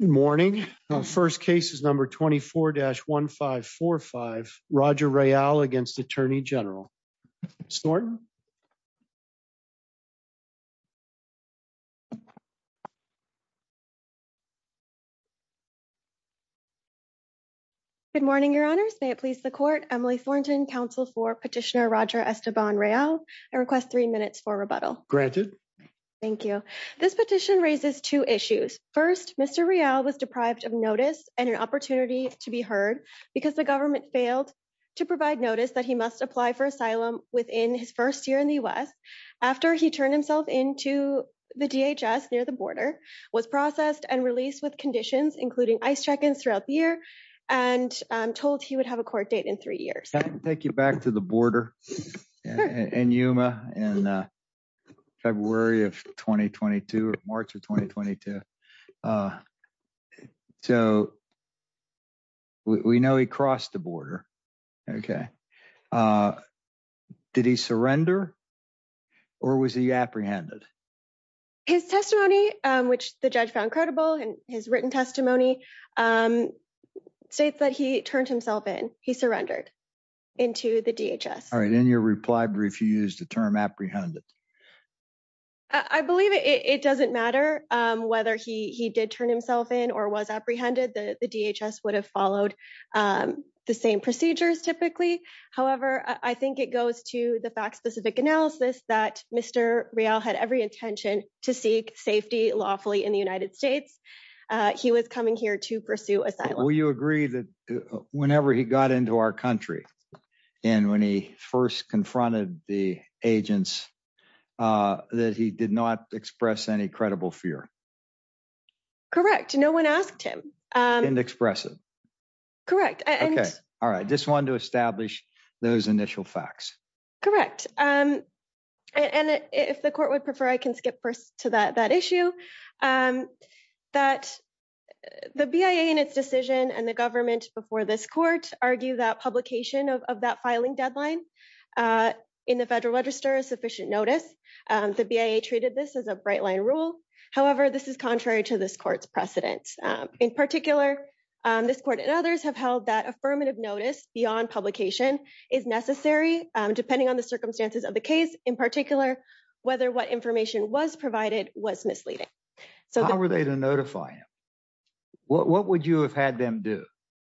Good morning. First case is number 24-1545, Roger Real against Attorney General. Snort. Good morning, Your Honors. May it please the Court. Emily Thornton, Counsel for Petitioner Roger Esteban Real. I request three minutes for rebuttal. Granted. Thank you. This petition raises two issues. First, Mr. Real was deprived of notice and an opportunity to be heard because the government failed to provide notice that he must apply for asylum within his first year in the U.S. after he turned himself in to the DHS near the border, was processed and released with conditions including ICE check-ins throughout the year, and told he would have a court date you back to the border in Yuma in February of 2022 or March of 2022. So we know he crossed the border. Okay. Did he surrender or was he apprehended? His testimony, which the judge found credible in his written testimony, um, states that he turned himself in. He surrendered into the DHS. All right. In your reply, he refused the term apprehended. I believe it doesn't matter whether he did turn himself in or was apprehended. The DHS would have followed the same procedures typically. However, I think it goes to the fact-specific analysis that Mr. Real had every intention to seek safety lawfully in the United States. He was coming here to pursue asylum. Will you agree that whenever he got into our country and when he first confronted the agents that he did not express any credible fear? Correct. No one asked him. Didn't express it. Correct. Okay. All right. Just wanted to establish those initial facts. Correct. And if the court would prefer, I can skip first to that issue, that the BIA in its decision and the government before this court argue that publication of that filing deadline in the federal register is sufficient notice. The BIA treated this as a bright line rule. However, this is contrary to this court's precedent. In particular, this court and others have held that affirmative notice beyond publication is necessary depending on the circumstances of the case. In particular, whether what information was provided was misleading. How were they to notify him? What would you have had them do?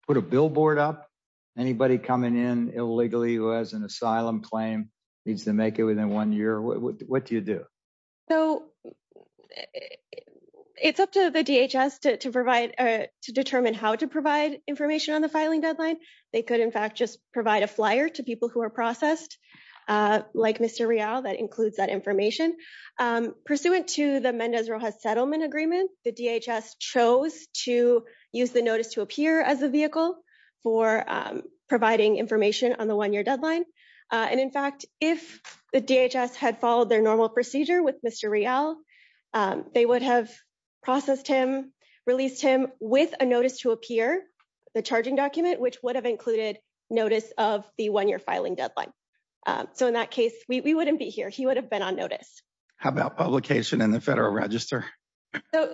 Put a billboard up? Anybody coming in illegally who has an asylum claim needs to make it within one year? What do you do? So it's up to the DHS to determine how to provide information on the filing deadline. They could, in fact, just provide a flyer to people who are processed, like Mr. Real, that includes that information. Pursuant to the Mendez-Rojas settlement agreement, the DHS chose to use the notice to appear as a vehicle for providing information on the one-year Mr. Real. They would have processed him, released him with a notice to appear, the charging document, which would have included notice of the one-year filing deadline. So in that case, we wouldn't be here. He would have been on notice. How about publication in the federal register?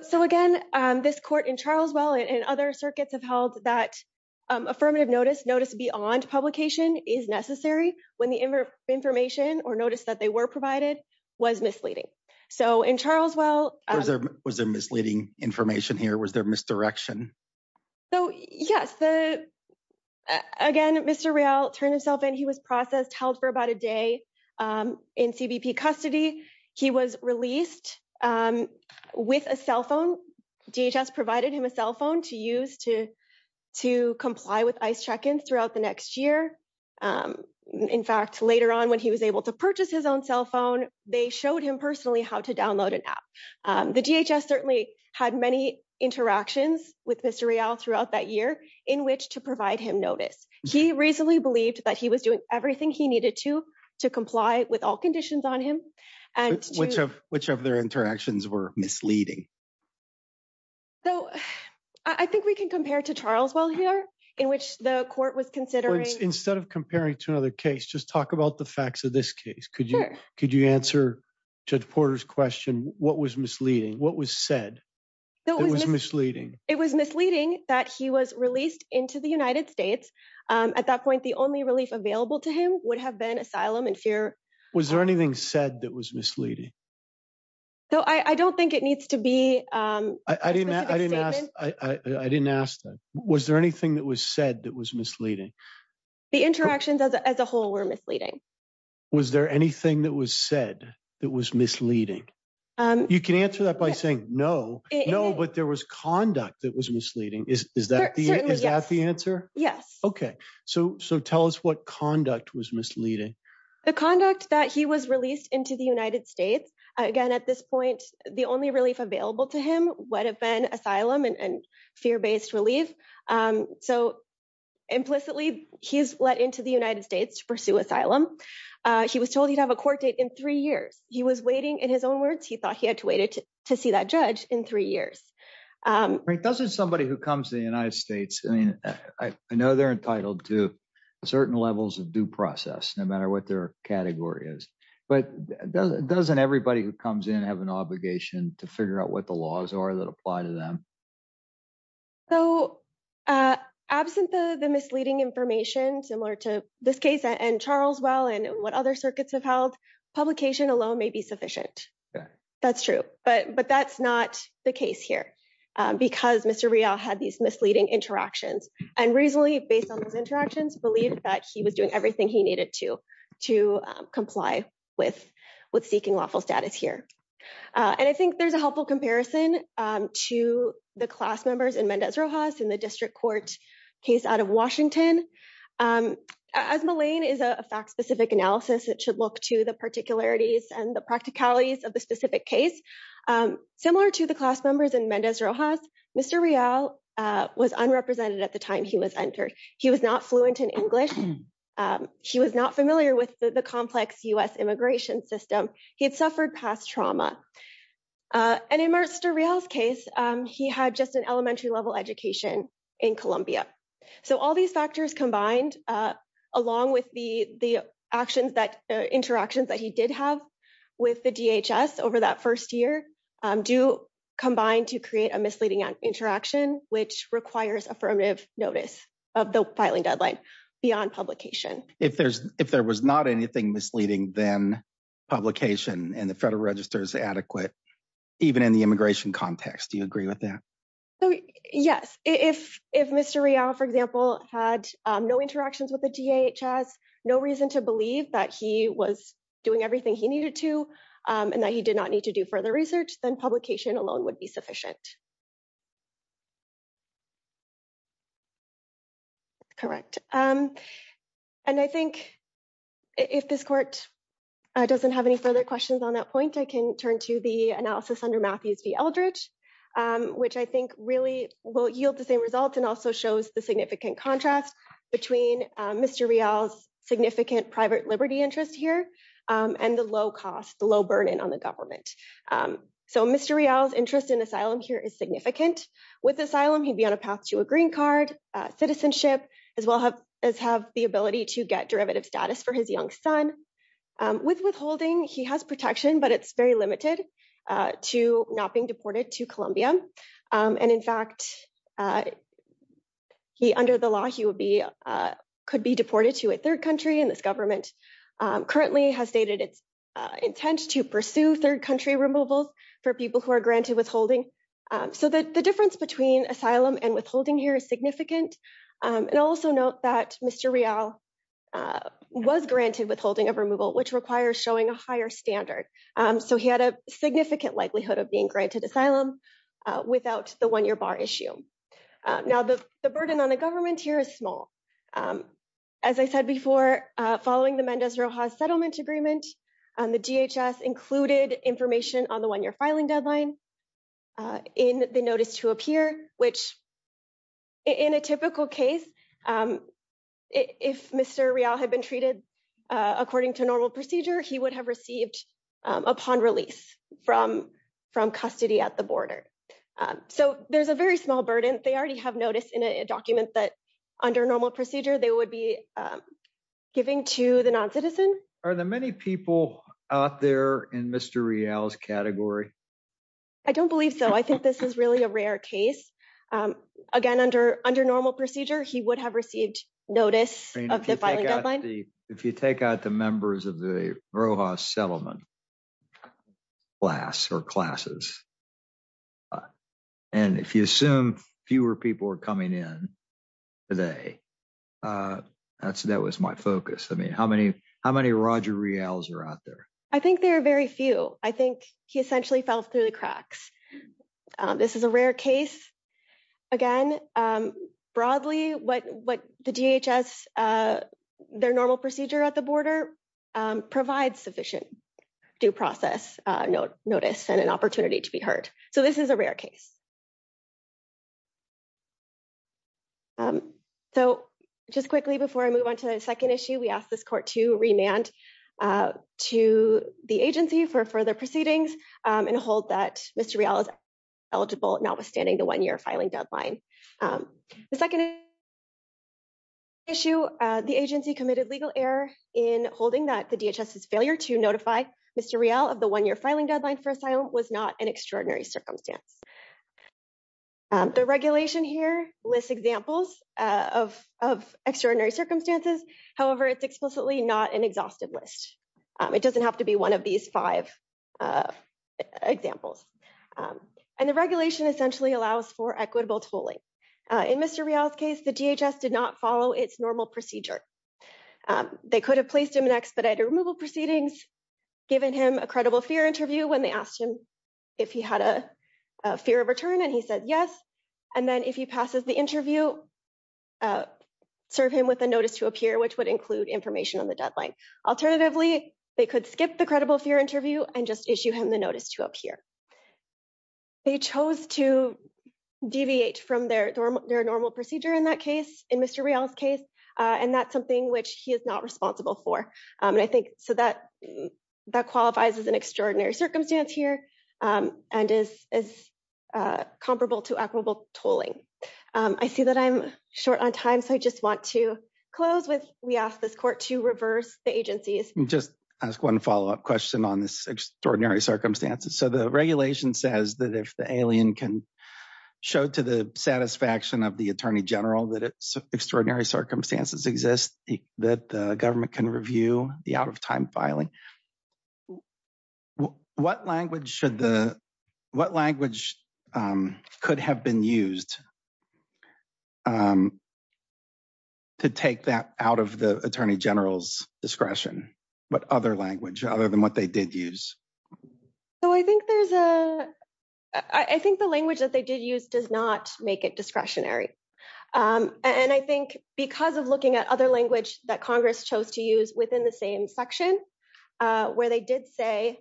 So again, this court in Charlesville and other circuits have held that affirmative notice, notice beyond publication is necessary when the information or notice that they were provided was misleading. So in Charlesville... Was there misleading information here? Was there misdirection? So yes. Again, Mr. Real turned himself in. He was processed, held for about a day in CBP custody. He was released with a cell phone. DHS provided him a cell phone to use to comply with ICE check-ins throughout the next year. In fact, later on, when he was able to purchase his own cell phone, they showed him personally how to download an app. The DHS certainly had many interactions with Mr. Real throughout that year in which to provide him notice. He reasonably believed that he was doing everything he needed to, to comply with all conditions on him. Which of their interactions were misleading? So I think we can compare to Charlesville here in which the court was considering... Instead of comparing to another case, just talk about the facts of this case. Sure. Could you answer Judge Porter's question? What was misleading? What was said that was misleading? It was misleading that he was released into the United States. At that point, the only relief available to him would have been asylum and fear. Was there anything said that was misleading? Though I don't think it needs to be a specific statement. I didn't ask that. Was there anything that was said that was misleading? The interactions as a whole were misleading. Was there anything that was said that was misleading? You can answer that by saying no. No, but there was conduct that was misleading. Is that the answer? Yes. Okay. So tell us what conduct was misleading. The conduct that he was released into the United States. Again, at this point, the only relief available to him would have been asylum and fear-based relief. So implicitly, he's let into the United States to pursue asylum. He was told he'd have a court date in three years. He was waiting, in his own words, he thought he had to wait to see that judge in three years. Doesn't somebody who comes to the United States... I mean, I know they're entitled to certain levels of due process, no matter what their category is, but doesn't everybody who comes in have an obligation to figure out what the laws are that apply to them? So absent the misleading information, similar to this case and Charles Well and what other circuits have held, publication alone may be sufficient. That's true. But that's not the case here, because Mr. Rial had these misleading interactions. And reasonably, based on those interactions, believed that he was doing everything he needed to comply with seeking lawful status here. And I think there's a helpful comparison to the class members in Mendez-Rojas in the district court case out of Washington. As Malayne is a fact-specific analysis, it should look to the particularities and the practicalities of the specific case. Similar to the class members in Mendez-Rojas, Mr. Rial was unrepresented at the time he was entered. He was not fluent in English. He was not familiar with the complex US immigration system. He had suffered past trauma. And in Mr. Rial's case, he had just an elementary level education in Columbia. So all these factors combined, along with the interactions that he did have with the DHS over that first year, do combine to create a misleading interaction, which requires affirmative notice of the filing deadline beyond publication. If there was not anything misleading, then publication in the federal register is adequate, even in the immigration context. Do you agree with that? Yes. If Mr. Rial, for example, had no interactions with the DHS, no reason to believe that he was doing everything he needed to and that he did not need to do further research, then publication alone would be sufficient. Correct. And I think if this court doesn't have any further questions on that point, I can turn to the analysis under Matthews v. Eldredge, which I think really will yield the same results and also shows the significant contrast between Mr. Rial's significant private liberty interest here and the low cost, the low burden on the government. So Mr. Rial's interest in asylum here is significant. With asylum, he'd be on a path to a green card, citizenship, as well as have the ability to get status for his young son. With withholding, he has protection, but it's very limited to not being deported to Colombia. And in fact, under the law, he could be deported to a third country. And this government currently has stated its intent to pursue third country removals for people who are granted withholding. So the difference between asylum and withholding here is significant. And also note that Mr. Rial was granted withholding of removal, which requires showing a higher standard. So he had a significant likelihood of being granted asylum without the one-year bar issue. Now, the burden on the government here is small. As I said before, following the Mendez-Rojas settlement agreement, the DHS included information on the one-year filing deadline in the notice to appear, which in a typical case, if Mr. Rial had been treated according to normal procedure, he would have received upon release from custody at the border. So there's a very small burden. They already have notice in a document that under normal procedure, they would be giving to the non-citizen. Are there many people out there in Mr. Rial's category? I don't believe so. I think this is really a rare case. Again, under normal procedure, he would have received notice of the filing deadline. If you take out the members of the Rojas settlement class or classes, and if you assume fewer people are coming in today, that was my focus. I mean, how many Roger Rials are out there? I think there are very few. I think he essentially fell through the cracks. This is a rare case. Again, broadly, what the DHS, their normal procedure at the border provides sufficient due process notice and an opportunity to be heard. So this is a rare case. So just quickly before I move on to the second issue, we ask this court to remand to the agency for further proceedings and hold that Mr. Rial is eligible notwithstanding the one-year filing deadline. The second issue, the agency committed legal error in holding that the DHS's failure to notify Mr. Rial of the one-year filing deadline for asylum was not an extraordinary circumstance. The regulation here lists examples of extraordinary circumstances. However, it's explicitly not an exhaustive list. It doesn't have to be one of these five examples. And the regulation essentially allows for equitable tolling. In Mr. Rial's case, the DHS did not follow its normal procedure. They could have placed him in expedited removal proceedings, given him a credible fear interview when they asked him if he had a fear of return, and he said yes. And then if he passes the interview, serve him with a notice to appear, which would include information on the deadline. Alternatively, they could skip the credible fear interview and just issue him the notice to appear. They chose to deviate from their normal procedure in that case, in Mr. Rial's case, and that's something which he is not responsible for. And I think so that qualifies as an extraordinary circumstance here and is comparable to equitable tolling. I see that I'm short on time, so I just want to close with we ask this court to reverse the agencies. Just ask one follow-up question on this extraordinary circumstances. So the regulation says that if the alien can show to the satisfaction of the Attorney General that it's extraordinary circumstances exist, that the government can review the out-of-time filing. What language could have been used to take that out of the Attorney General's discretion? What other language other than what they did use? So I think the language that they did use does not make it discretionary. And I think because of looking at other language that Congress chose to use within the same section, where they did say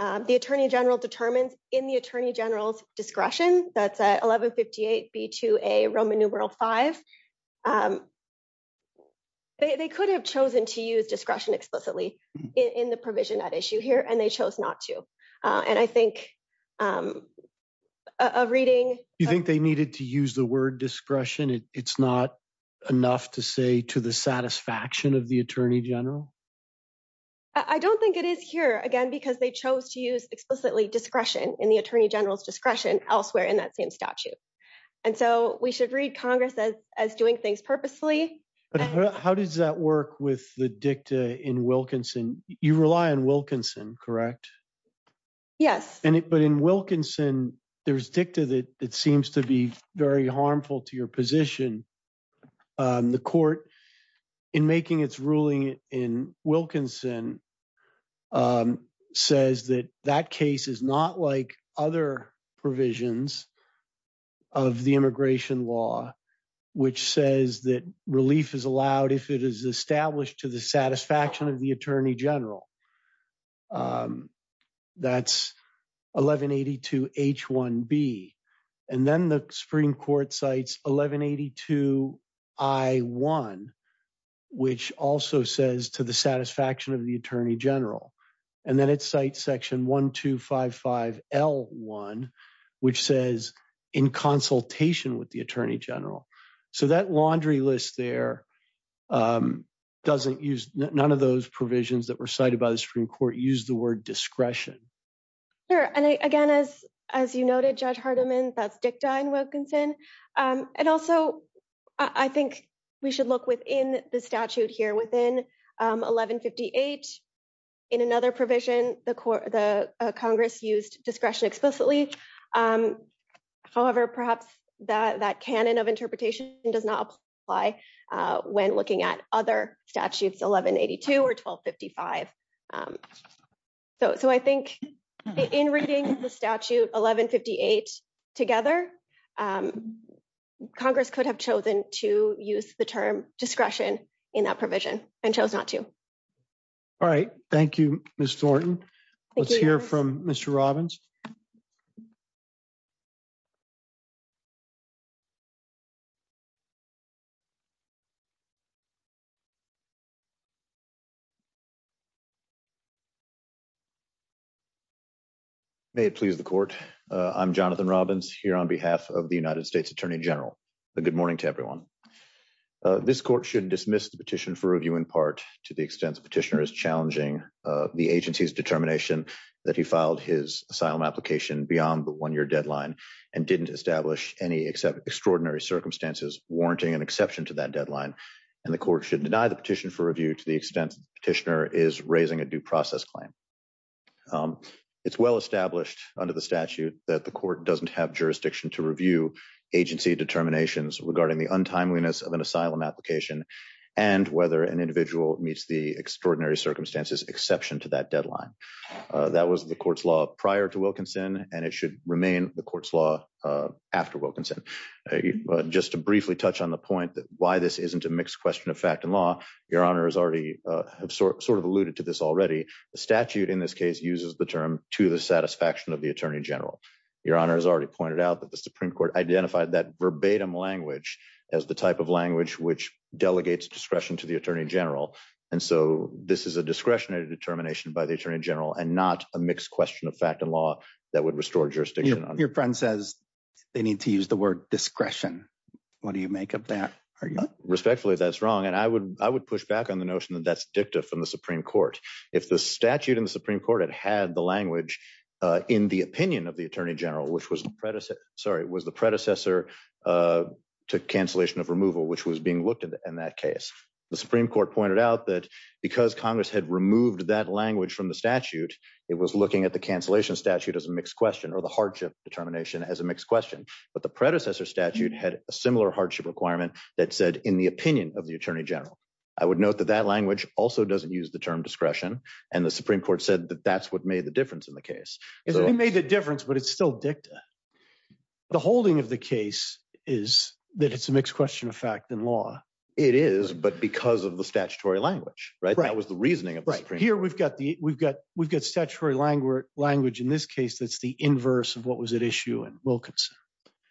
the Attorney General determines in the Attorney General's discretion, that's at 1158 B2A Roman numeral V. They could have chosen to use discretion explicitly in the provision at issue here, and they chose not to. And I think a reading... You think they needed to use the word discretion? It's not enough to say to the satisfaction of the Attorney General? I don't think it is here, again, because they chose to use explicitly discretion in the Attorney General's discretion elsewhere in that same statute. And so we should read Congress as doing things purposely. But how does that work with the dicta in Wilkinson? You rely on Wilkinson, correct? Yes. But in Wilkinson, there's dicta that seems to be very harmful to your position. The court, in making its ruling in Wilkinson, says that that case is not like other provisions of the immigration law, which says that relief is allowed if it is established to the satisfaction of the Attorney General. That's 1182 H1B. And then the Supreme Court cites 1182 I1, which also says to the satisfaction of the Attorney General. And then it cites section 1255 L1, which says in consultation with the Attorney General. So that laundry list there doesn't use none of those provisions that were cited by the Supreme Court used the word discretion. Sure. And again, as you noted, Judge Hardiman, that's dicta in Wilkinson. And also, I think we should look within the statute here within 1158. In another provision, the Congress used discretion explicitly. However, perhaps that canon of interpretation does not apply when looking at other statutes 1182 or 1255. So I think in reading the statute 1158 together, Congress could have chosen to use the term discretion in that provision and chose not to. All right. Thank you, Ms. Thornton. Let's hear from Mr. Robbins. May it please the court. I'm Jonathan Robbins here on behalf of the United States Attorney General. Good morning to everyone. This court should dismiss the petition for review in part to the extent the petitioner is challenging the agency's determination that he filed his asylum application beyond the one-year deadline and didn't establish any extraordinary circumstances warranting an exception to that deadline. And the court should deny the petition for review to the extent the petitioner is raising a due process claim. It's well established under the statute that the court doesn't have jurisdiction to review agency determinations regarding the untimeliness of an asylum application and whether an individual meets the extraordinary circumstances exception to that deadline. That was the court's law prior to Wilkinson, and it should remain the court's law after Wilkinson. Just to briefly touch on the point that why this isn't a mixed question of fact and law, Your Honor has already sort of alluded to this already. The statute in this case uses the term to the satisfaction of the Attorney General. Your Honor has already pointed out that the Supreme Court identified that verbatim language as the type of language which delegates discretion to the Attorney General. And so this is a discretionary determination by the Attorney General and not a mixed question of fact and law that would restore jurisdiction. Your friend says they need to use the word discretion. What do you make of that argument? Respectfully, that's wrong. And I would push back on the notion that that's dicta from the Supreme Court. If the statute in the Supreme Court had had the language in the opinion of the Attorney General, which was the predecessor to cancellation of removal, which was being looked at in that case, the Supreme Court pointed out that because Congress had removed that language from the statute, it was looking at the cancellation statute as a mixed question or the hardship determination as a mixed question. But the predecessor statute had a similar hardship requirement that said, in the opinion of the Attorney General. I would note that that language also doesn't use the term discretion. And the Supreme Court said that that's what made the difference in the case. It only made the difference, but it's still dicta. The holding of the case is that it's a mixed question of fact and law. It is, but because of the statutory language, right? That was the statutory language in this case that's the inverse of what was at issue in Wilkinson.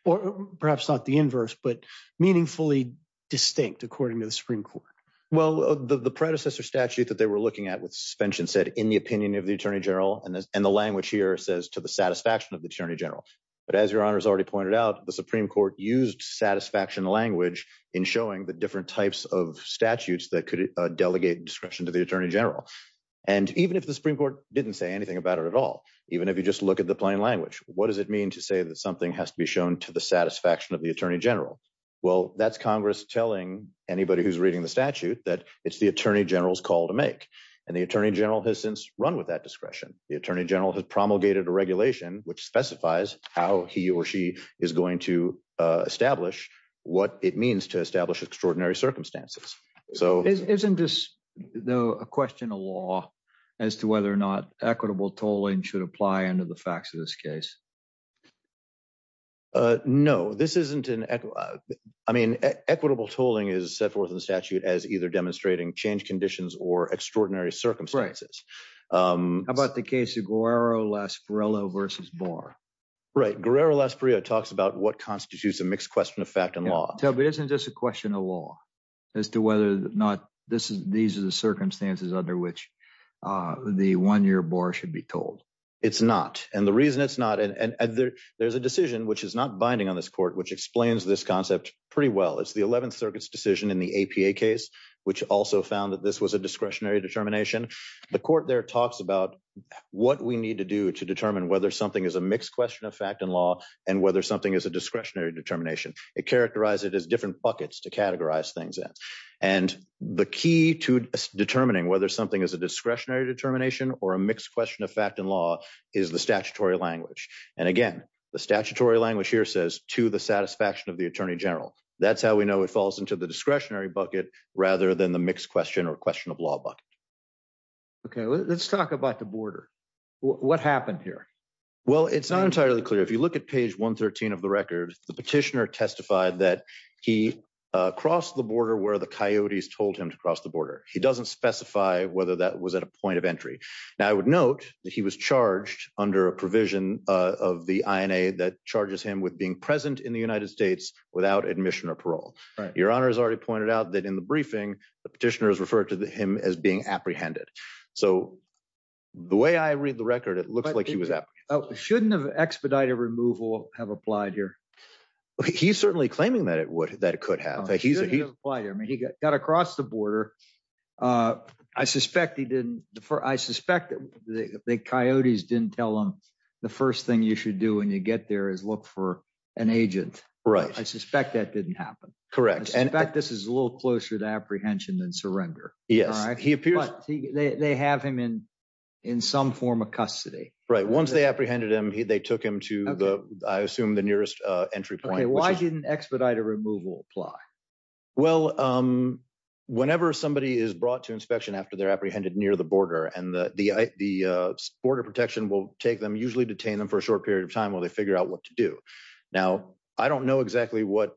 Or perhaps not the inverse, but meaningfully distinct according to the Supreme Court. Well, the predecessor statute that they were looking at with suspension said, in the opinion of the Attorney General. And the language here says, to the satisfaction of the Attorney General. But as your Honor has already pointed out, the Supreme Court used satisfaction language in showing the different types of statutes that could delegate discretion to the Attorney General. And even if the Supreme Court didn't say anything about it at all, even if you just look at the plain language, what does it mean to say that something has to be shown to the satisfaction of the Attorney General? Well, that's Congress telling anybody who's reading the statute that it's the Attorney General's call to make. And the Attorney General has since run with that discretion. The Attorney General has promulgated a regulation which specifies how he or she is going to establish what it means to establish extraordinary circumstances. Isn't this, though, a question of law as to whether or not equitable tolling should apply under the facts of this case? No, this isn't. I mean, equitable tolling is set forth in the statute as either demonstrating change conditions or extraordinary circumstances. How about the case of Guerrero-Lasparilla versus Barr? Right. Guerrero-Lasparilla talks about what constitutes a mixed question of fact and law. But isn't this a question of law as to whether or not these are the circumstances under which the one-year bar should be told? It's not. And the reason it's not, there's a decision which is not binding on this court which explains this concept pretty well. It's the 11th Circuit's decision in the APA case which also found that this was a discretionary determination. The court there talks about what we need to do to determine whether something is a mixed question of fact and law and whether something is a discretionary determination. It characterized it as different buckets to categorize things in. And the key to determining whether something is a discretionary determination or a mixed question of fact and law is the statutory language. And again, the statutory language here says, to the satisfaction of the Attorney General. That's how we know it falls into the discretionary bucket rather than the mixed question or question of law bucket. Okay, let's talk about the border. What happened here? Well, it's not entirely clear. If you look at page 113 of the record, the petitioner testified that he crossed the border where the coyotes told him to cross the border. He doesn't specify whether that was at a point of entry. Now, I would note that he was charged under a provision of the INA that charges him with being present in the United States without admission or parole. Your Honor has already pointed out that in the briefing, the petitioner has referred to him as being shouldn't have expedited removal have applied here. He's certainly claiming that it would, that it could have. He got across the border. I suspect he didn't. I suspect that the coyotes didn't tell him the first thing you should do when you get there is look for an agent. Right. I suspect that didn't happen. Correct. And in fact, this is a little closer to apprehension than surrender. Yes, he appears. They have him in some form of custody, right? Once they apprehended him, they took him to the, I assume the nearest entry point. Why didn't expedited removal apply? Well, whenever somebody is brought to inspection after they're apprehended near the border and the border protection will take them usually detain them for a short period of time while they figure out what to do. Now, I don't know exactly what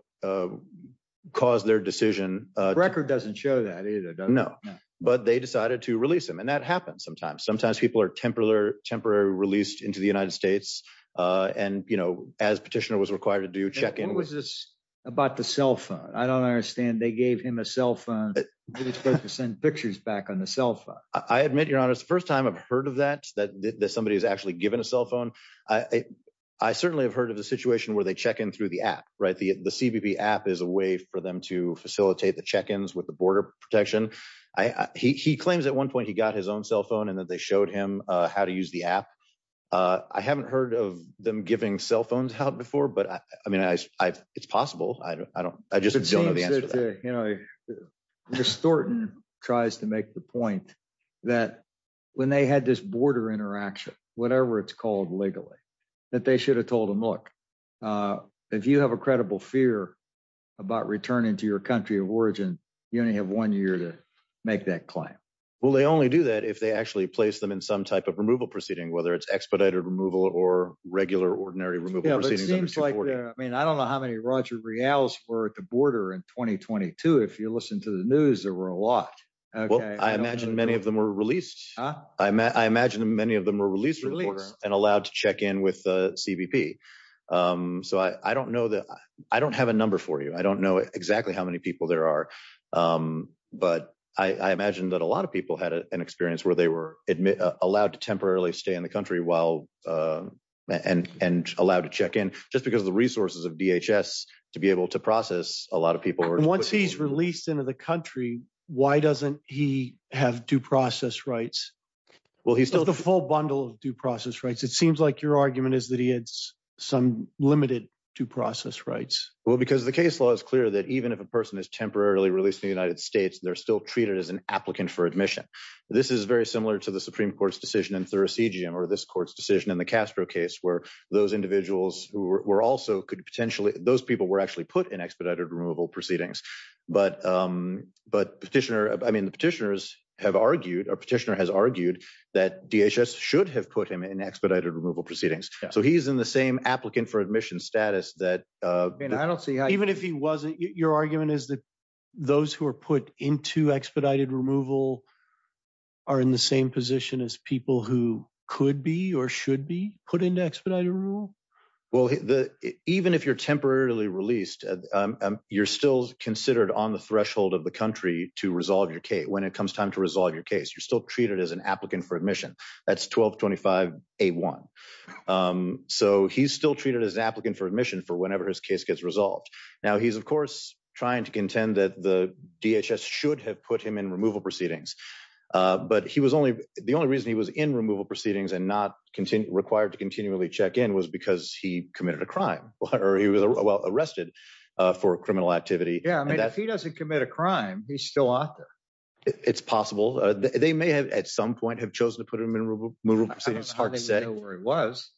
caused their decision. Record doesn't show that either. No, but they decided to release him. And that happens sometimes. Sometimes people are temporary, temporary released into the United States. And, you know, as petitioner was required to do check-in. What was this about the cell phone? I don't understand. They gave him a cell phone. It's supposed to send pictures back on the cell phone. I admit your honor. It's the first time I've heard of that, that somebody has actually given a cell phone. I certainly have heard of the situation where they check in through the app, right? The CBP app is a way for them to facilitate the check-ins with the border protection. I, he, he claims at one point, he got his own cell phone and that they showed him how to use the app. I haven't heard of them giving cell phones out before, but I mean, I, I it's possible. I don't, I don't, I just don't know the answer to that. You know, distorting tries to make the point that when they had this border interaction, whatever it's called legally that they should have told him, look if you have a country of origin, you only have one year to make that claim. Well, they only do that if they actually place them in some type of removal proceeding, whether it's expedited removal or regular ordinary removal proceedings. I mean, I don't know how many Roger Reales were at the border in 2022. If you listen to the news, there were a lot. Well, I imagine many of them were released. I imagine many of them were released and allowed to check in with the CBP. So I don't know that I don't have a number for you. I don't know exactly how many people there are. But I, I imagine that a lot of people had an experience where they were admitted, allowed to temporarily stay in the country while and, and allowed to check in just because of the resources of DHS to be able to process a lot of people. Once he's released into the country, why doesn't he have due process rights? Well, he still has the full bundle of due process rights. It seems like your argument is that he had some limited due process rights. Well, because the case law is clear that even if a person is temporarily released in the United States, they're still treated as an applicant for admission. This is very similar to the Supreme Court's decision in Thuracigian or this court's decision in the Castro case, where those individuals who were also could potentially, those people were actually put in expedited removal proceedings. But, but petitioner, I mean, the petitioners have argued or petitioner has argued that DHS should have put him in expedited removal proceedings. So he's in the same applicant for admission status that. Even if he wasn't, your argument is that those who are put into expedited removal are in the same position as people who could be or should be put into expedited removal. Well, the, even if you're temporarily released, you're still considered on the threshold of the country to resolve your case. When it comes time to resolve your case, you're still treated as applicant for admission. That's 1225A1. So he's still treated as an applicant for admission for whenever his case gets resolved. Now he's of course trying to contend that the DHS should have put him in removal proceedings. But he was only, the only reason he was in removal proceedings and not required to continually check in was because he committed a crime or he was arrested for criminal activity. Yeah. I mean, if he doesn't commit a crime, he's still out there. It's possible. They may have at some point have chosen to put him in removal proceedings. I don't even know where he was.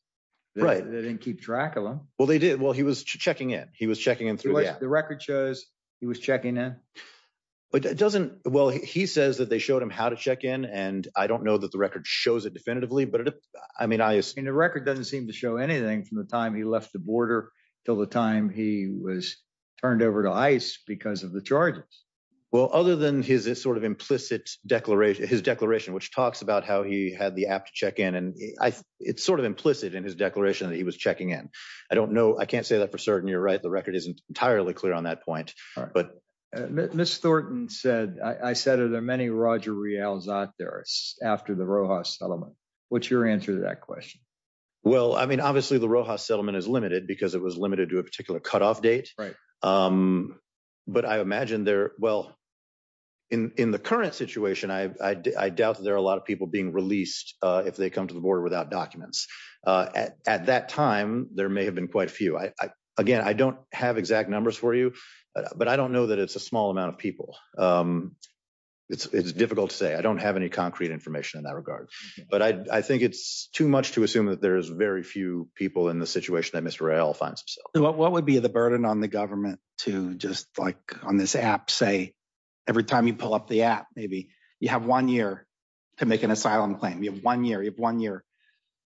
Right. They didn't keep track of him. Well, they did. Well, he was checking in. He was checking in through the app. The record shows he was checking in. But it doesn't, well, he says that they showed him how to check in and I don't know that the record shows it definitively, but I mean, I assume. And the record doesn't seem to show anything from the time he left the border till the time he was turned over to ICE because of charges. Well, other than his sort of implicit declaration, his declaration, which talks about how he had the app to check in. And it's sort of implicit in his declaration that he was checking in. I don't know. I can't say that for certain you're right. The record isn't entirely clear on that point. All right. But Ms. Thornton said, I said, are there many Roger Reales out there after the Rojas settlement? What's your answer to that question? Well, I mean, obviously the Rojas settlement is limited because it was limited to a particular cutoff date. Right. But I imagine there, well, in the current situation, I doubt that there are a lot of people being released if they come to the border without documents. At that time, there may have been quite few. Again, I don't have exact numbers for you, but I don't know that it's a small amount of people. It's difficult to say. I don't have any concrete information in that regard. But I think it's too much to assume that there's very few people in the situation that Mr. Reales finds himself. What would be the burden on the government to just like on this app, say, every time you pull up the app, maybe you have one year to make an asylum claim. You have one year. You have one year.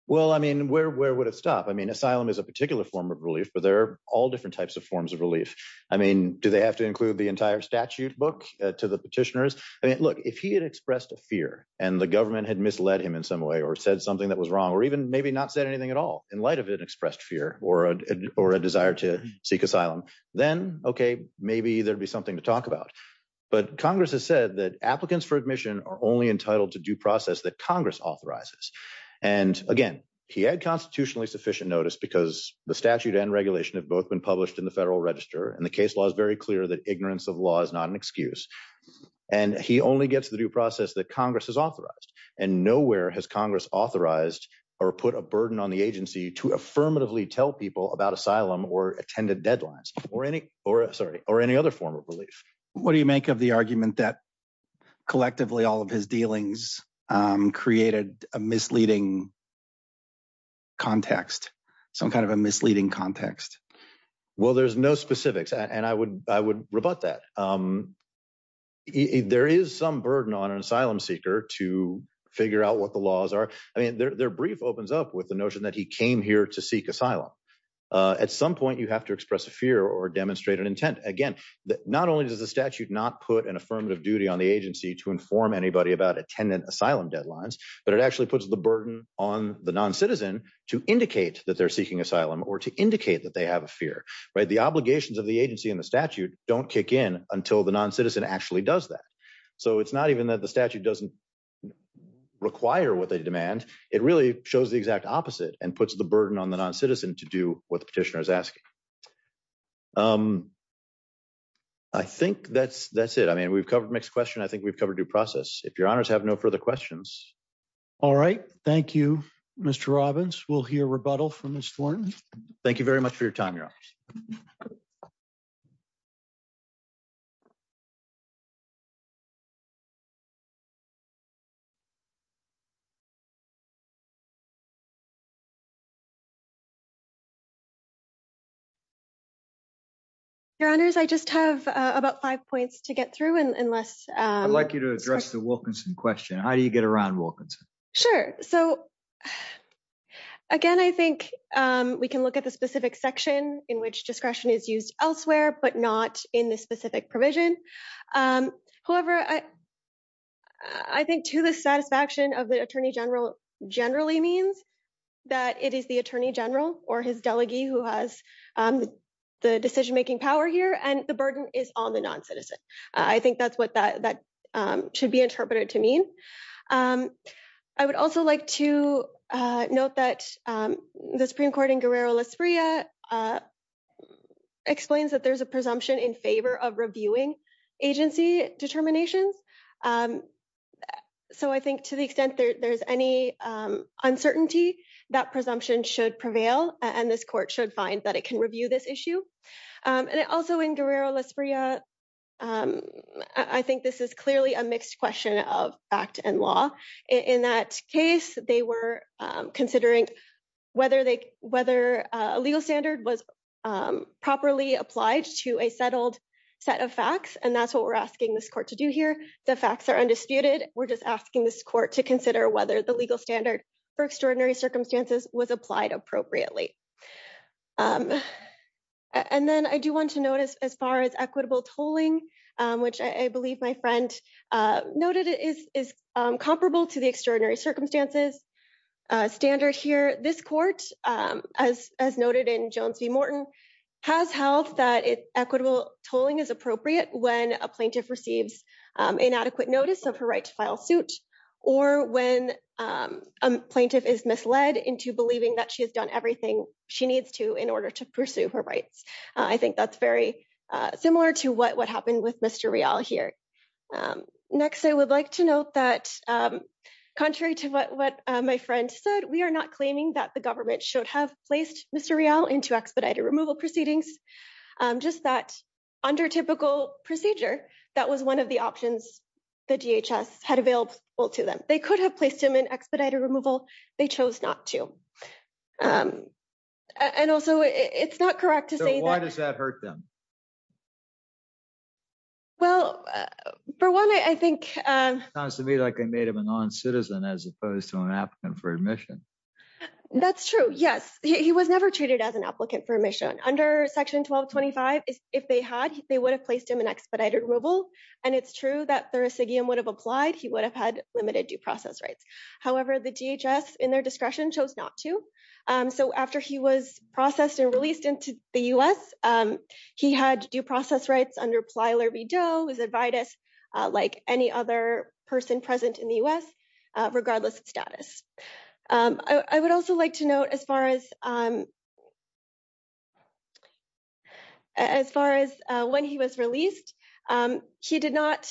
Well, I mean, where where would it stop? I mean, asylum is a particular form of relief, but there are all different types of forms of relief. I mean, do they have to include the entire statute book to the petitioners? I mean, look, if he had expressed a fear and the government had misled him in some way or said something that was wrong or even maybe not said anything at all in light of an expressed fear or a desire to seek asylum, then OK, maybe there'd be something to talk about. But Congress has said that applicants for admission are only entitled to due process that Congress authorizes. And again, he had constitutionally sufficient notice because the statute and regulation have both been published in the Federal Register. And the case law is very clear that ignorance of law is not an excuse. And he only gets the due process that authorized. And nowhere has Congress authorized or put a burden on the agency to affirmatively tell people about asylum or attended deadlines or any or sorry, or any other form of relief. What do you make of the argument that collectively all of his dealings created a misleading context, some kind of a misleading context? Well, there's no specifics. And I would I would rebut that. There is some burden on an asylum seeker to figure out what the laws are. I mean, their brief opens up with the notion that he came here to seek asylum. At some point, you have to express a fear or demonstrate an intent. Again, not only does the statute not put an affirmative duty on the agency to inform anybody about attendant asylum deadlines, but it actually puts the burden on the non-citizen to indicate that they're seeking asylum or to indicate that they have a fear, right? The obligations of the agency in the statute don't kick in until the non-citizen actually does that. So it's not even that the statute doesn't require what they demand. It really shows the exact opposite and puts the burden on the non-citizen to do what the petitioner is asking. I think that's it. I mean, we've covered mixed question. I think we've covered due process. If your honors have no further questions. All right. Thank you, Mr. Robbins. We'll hear rebuttal from Mr. Thornton. Thank you very much for your time, your honor. Your honors, I just have about five points to get through and less. I'd like you to address the Wilkinson question. How do you get around Wilkinson? Sure. So again, I think we can look at the specific section in which discretion is used elsewhere, but not in this specific provision. However, I think to the satisfaction of the attorney general generally means that it is the attorney general or his delegate who has the decision-making power here and the burden is on the non-citizen. I think that's what that should be interpreted to mean. I would also like to note that the Supreme Court in Guerrero-Lasprilla explains that there's a presumption in favor of reviewing agency determinations. So I think to the extent there's any uncertainty, that presumption should prevail and this court should find that it can review this issue. And also in Guerrero-Lasprilla, I think this is clearly a mixed question of act and law. In that case, they were considering whether a legal standard was properly applied to a settled set of facts and that's what we're asking this court to do here. The facts are undisputed. We're just asking this court to consider whether the legal standard for extraordinary circumstances was applied appropriately. And then I do want to notice as far as equitable tolling, which I believe my friend noted is comparable to the extraordinary circumstances standard here. This court, as noted in Jones v. Morton, has held that equitable tolling is appropriate when a plaintiff receives inadequate notice of her right to file suit or when a plaintiff is misled into believing that she has done everything she needs to in order to pursue her rights. I think that's very similar to what happened with Mr. Real here. Next, I would like to note that contrary to what my friend said, we are not claiming that the government should have placed Mr. Real into expedited removal proceedings. Just that under typical procedure, that was one of the options the DHS had available to them. They could have placed him in expedited removal, they chose not to. And also, it's not correct to say that... So why does that hurt them? Well, for one, I think... It sounds to me like they made him a non-citizen as opposed to an applicant for admission. That's true, yes. He was never treated as an applicant for admission. Under Section 1225, if they had, they would have placed him in expedited removal. And it's true that thursigium would have applied, he would have had limited due process rights. However, the DHS, in their discretion, chose not to. So after he was processed and released into the US, he had due process rights under Plyler v. Doe, his advice, like any other person present in the US, regardless of status. I would also like to note as far as when he was released, he did not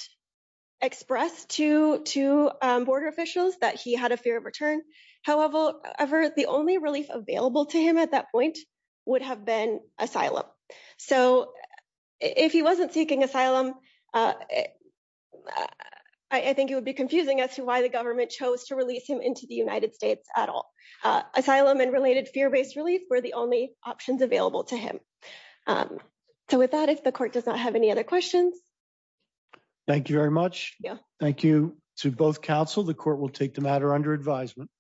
express to border officials that he had a fear of return. However, the only relief available to him at that point would have been asylum. So if he wasn't seeking asylum, I think it would be confusing as to why government chose to release him into the United States at all. Asylum and related fear-based relief were the only options available to him. So with that, if the court does not have any other questions... Thank you very much. Thank you to both counsel. The court will take the matter under advisement.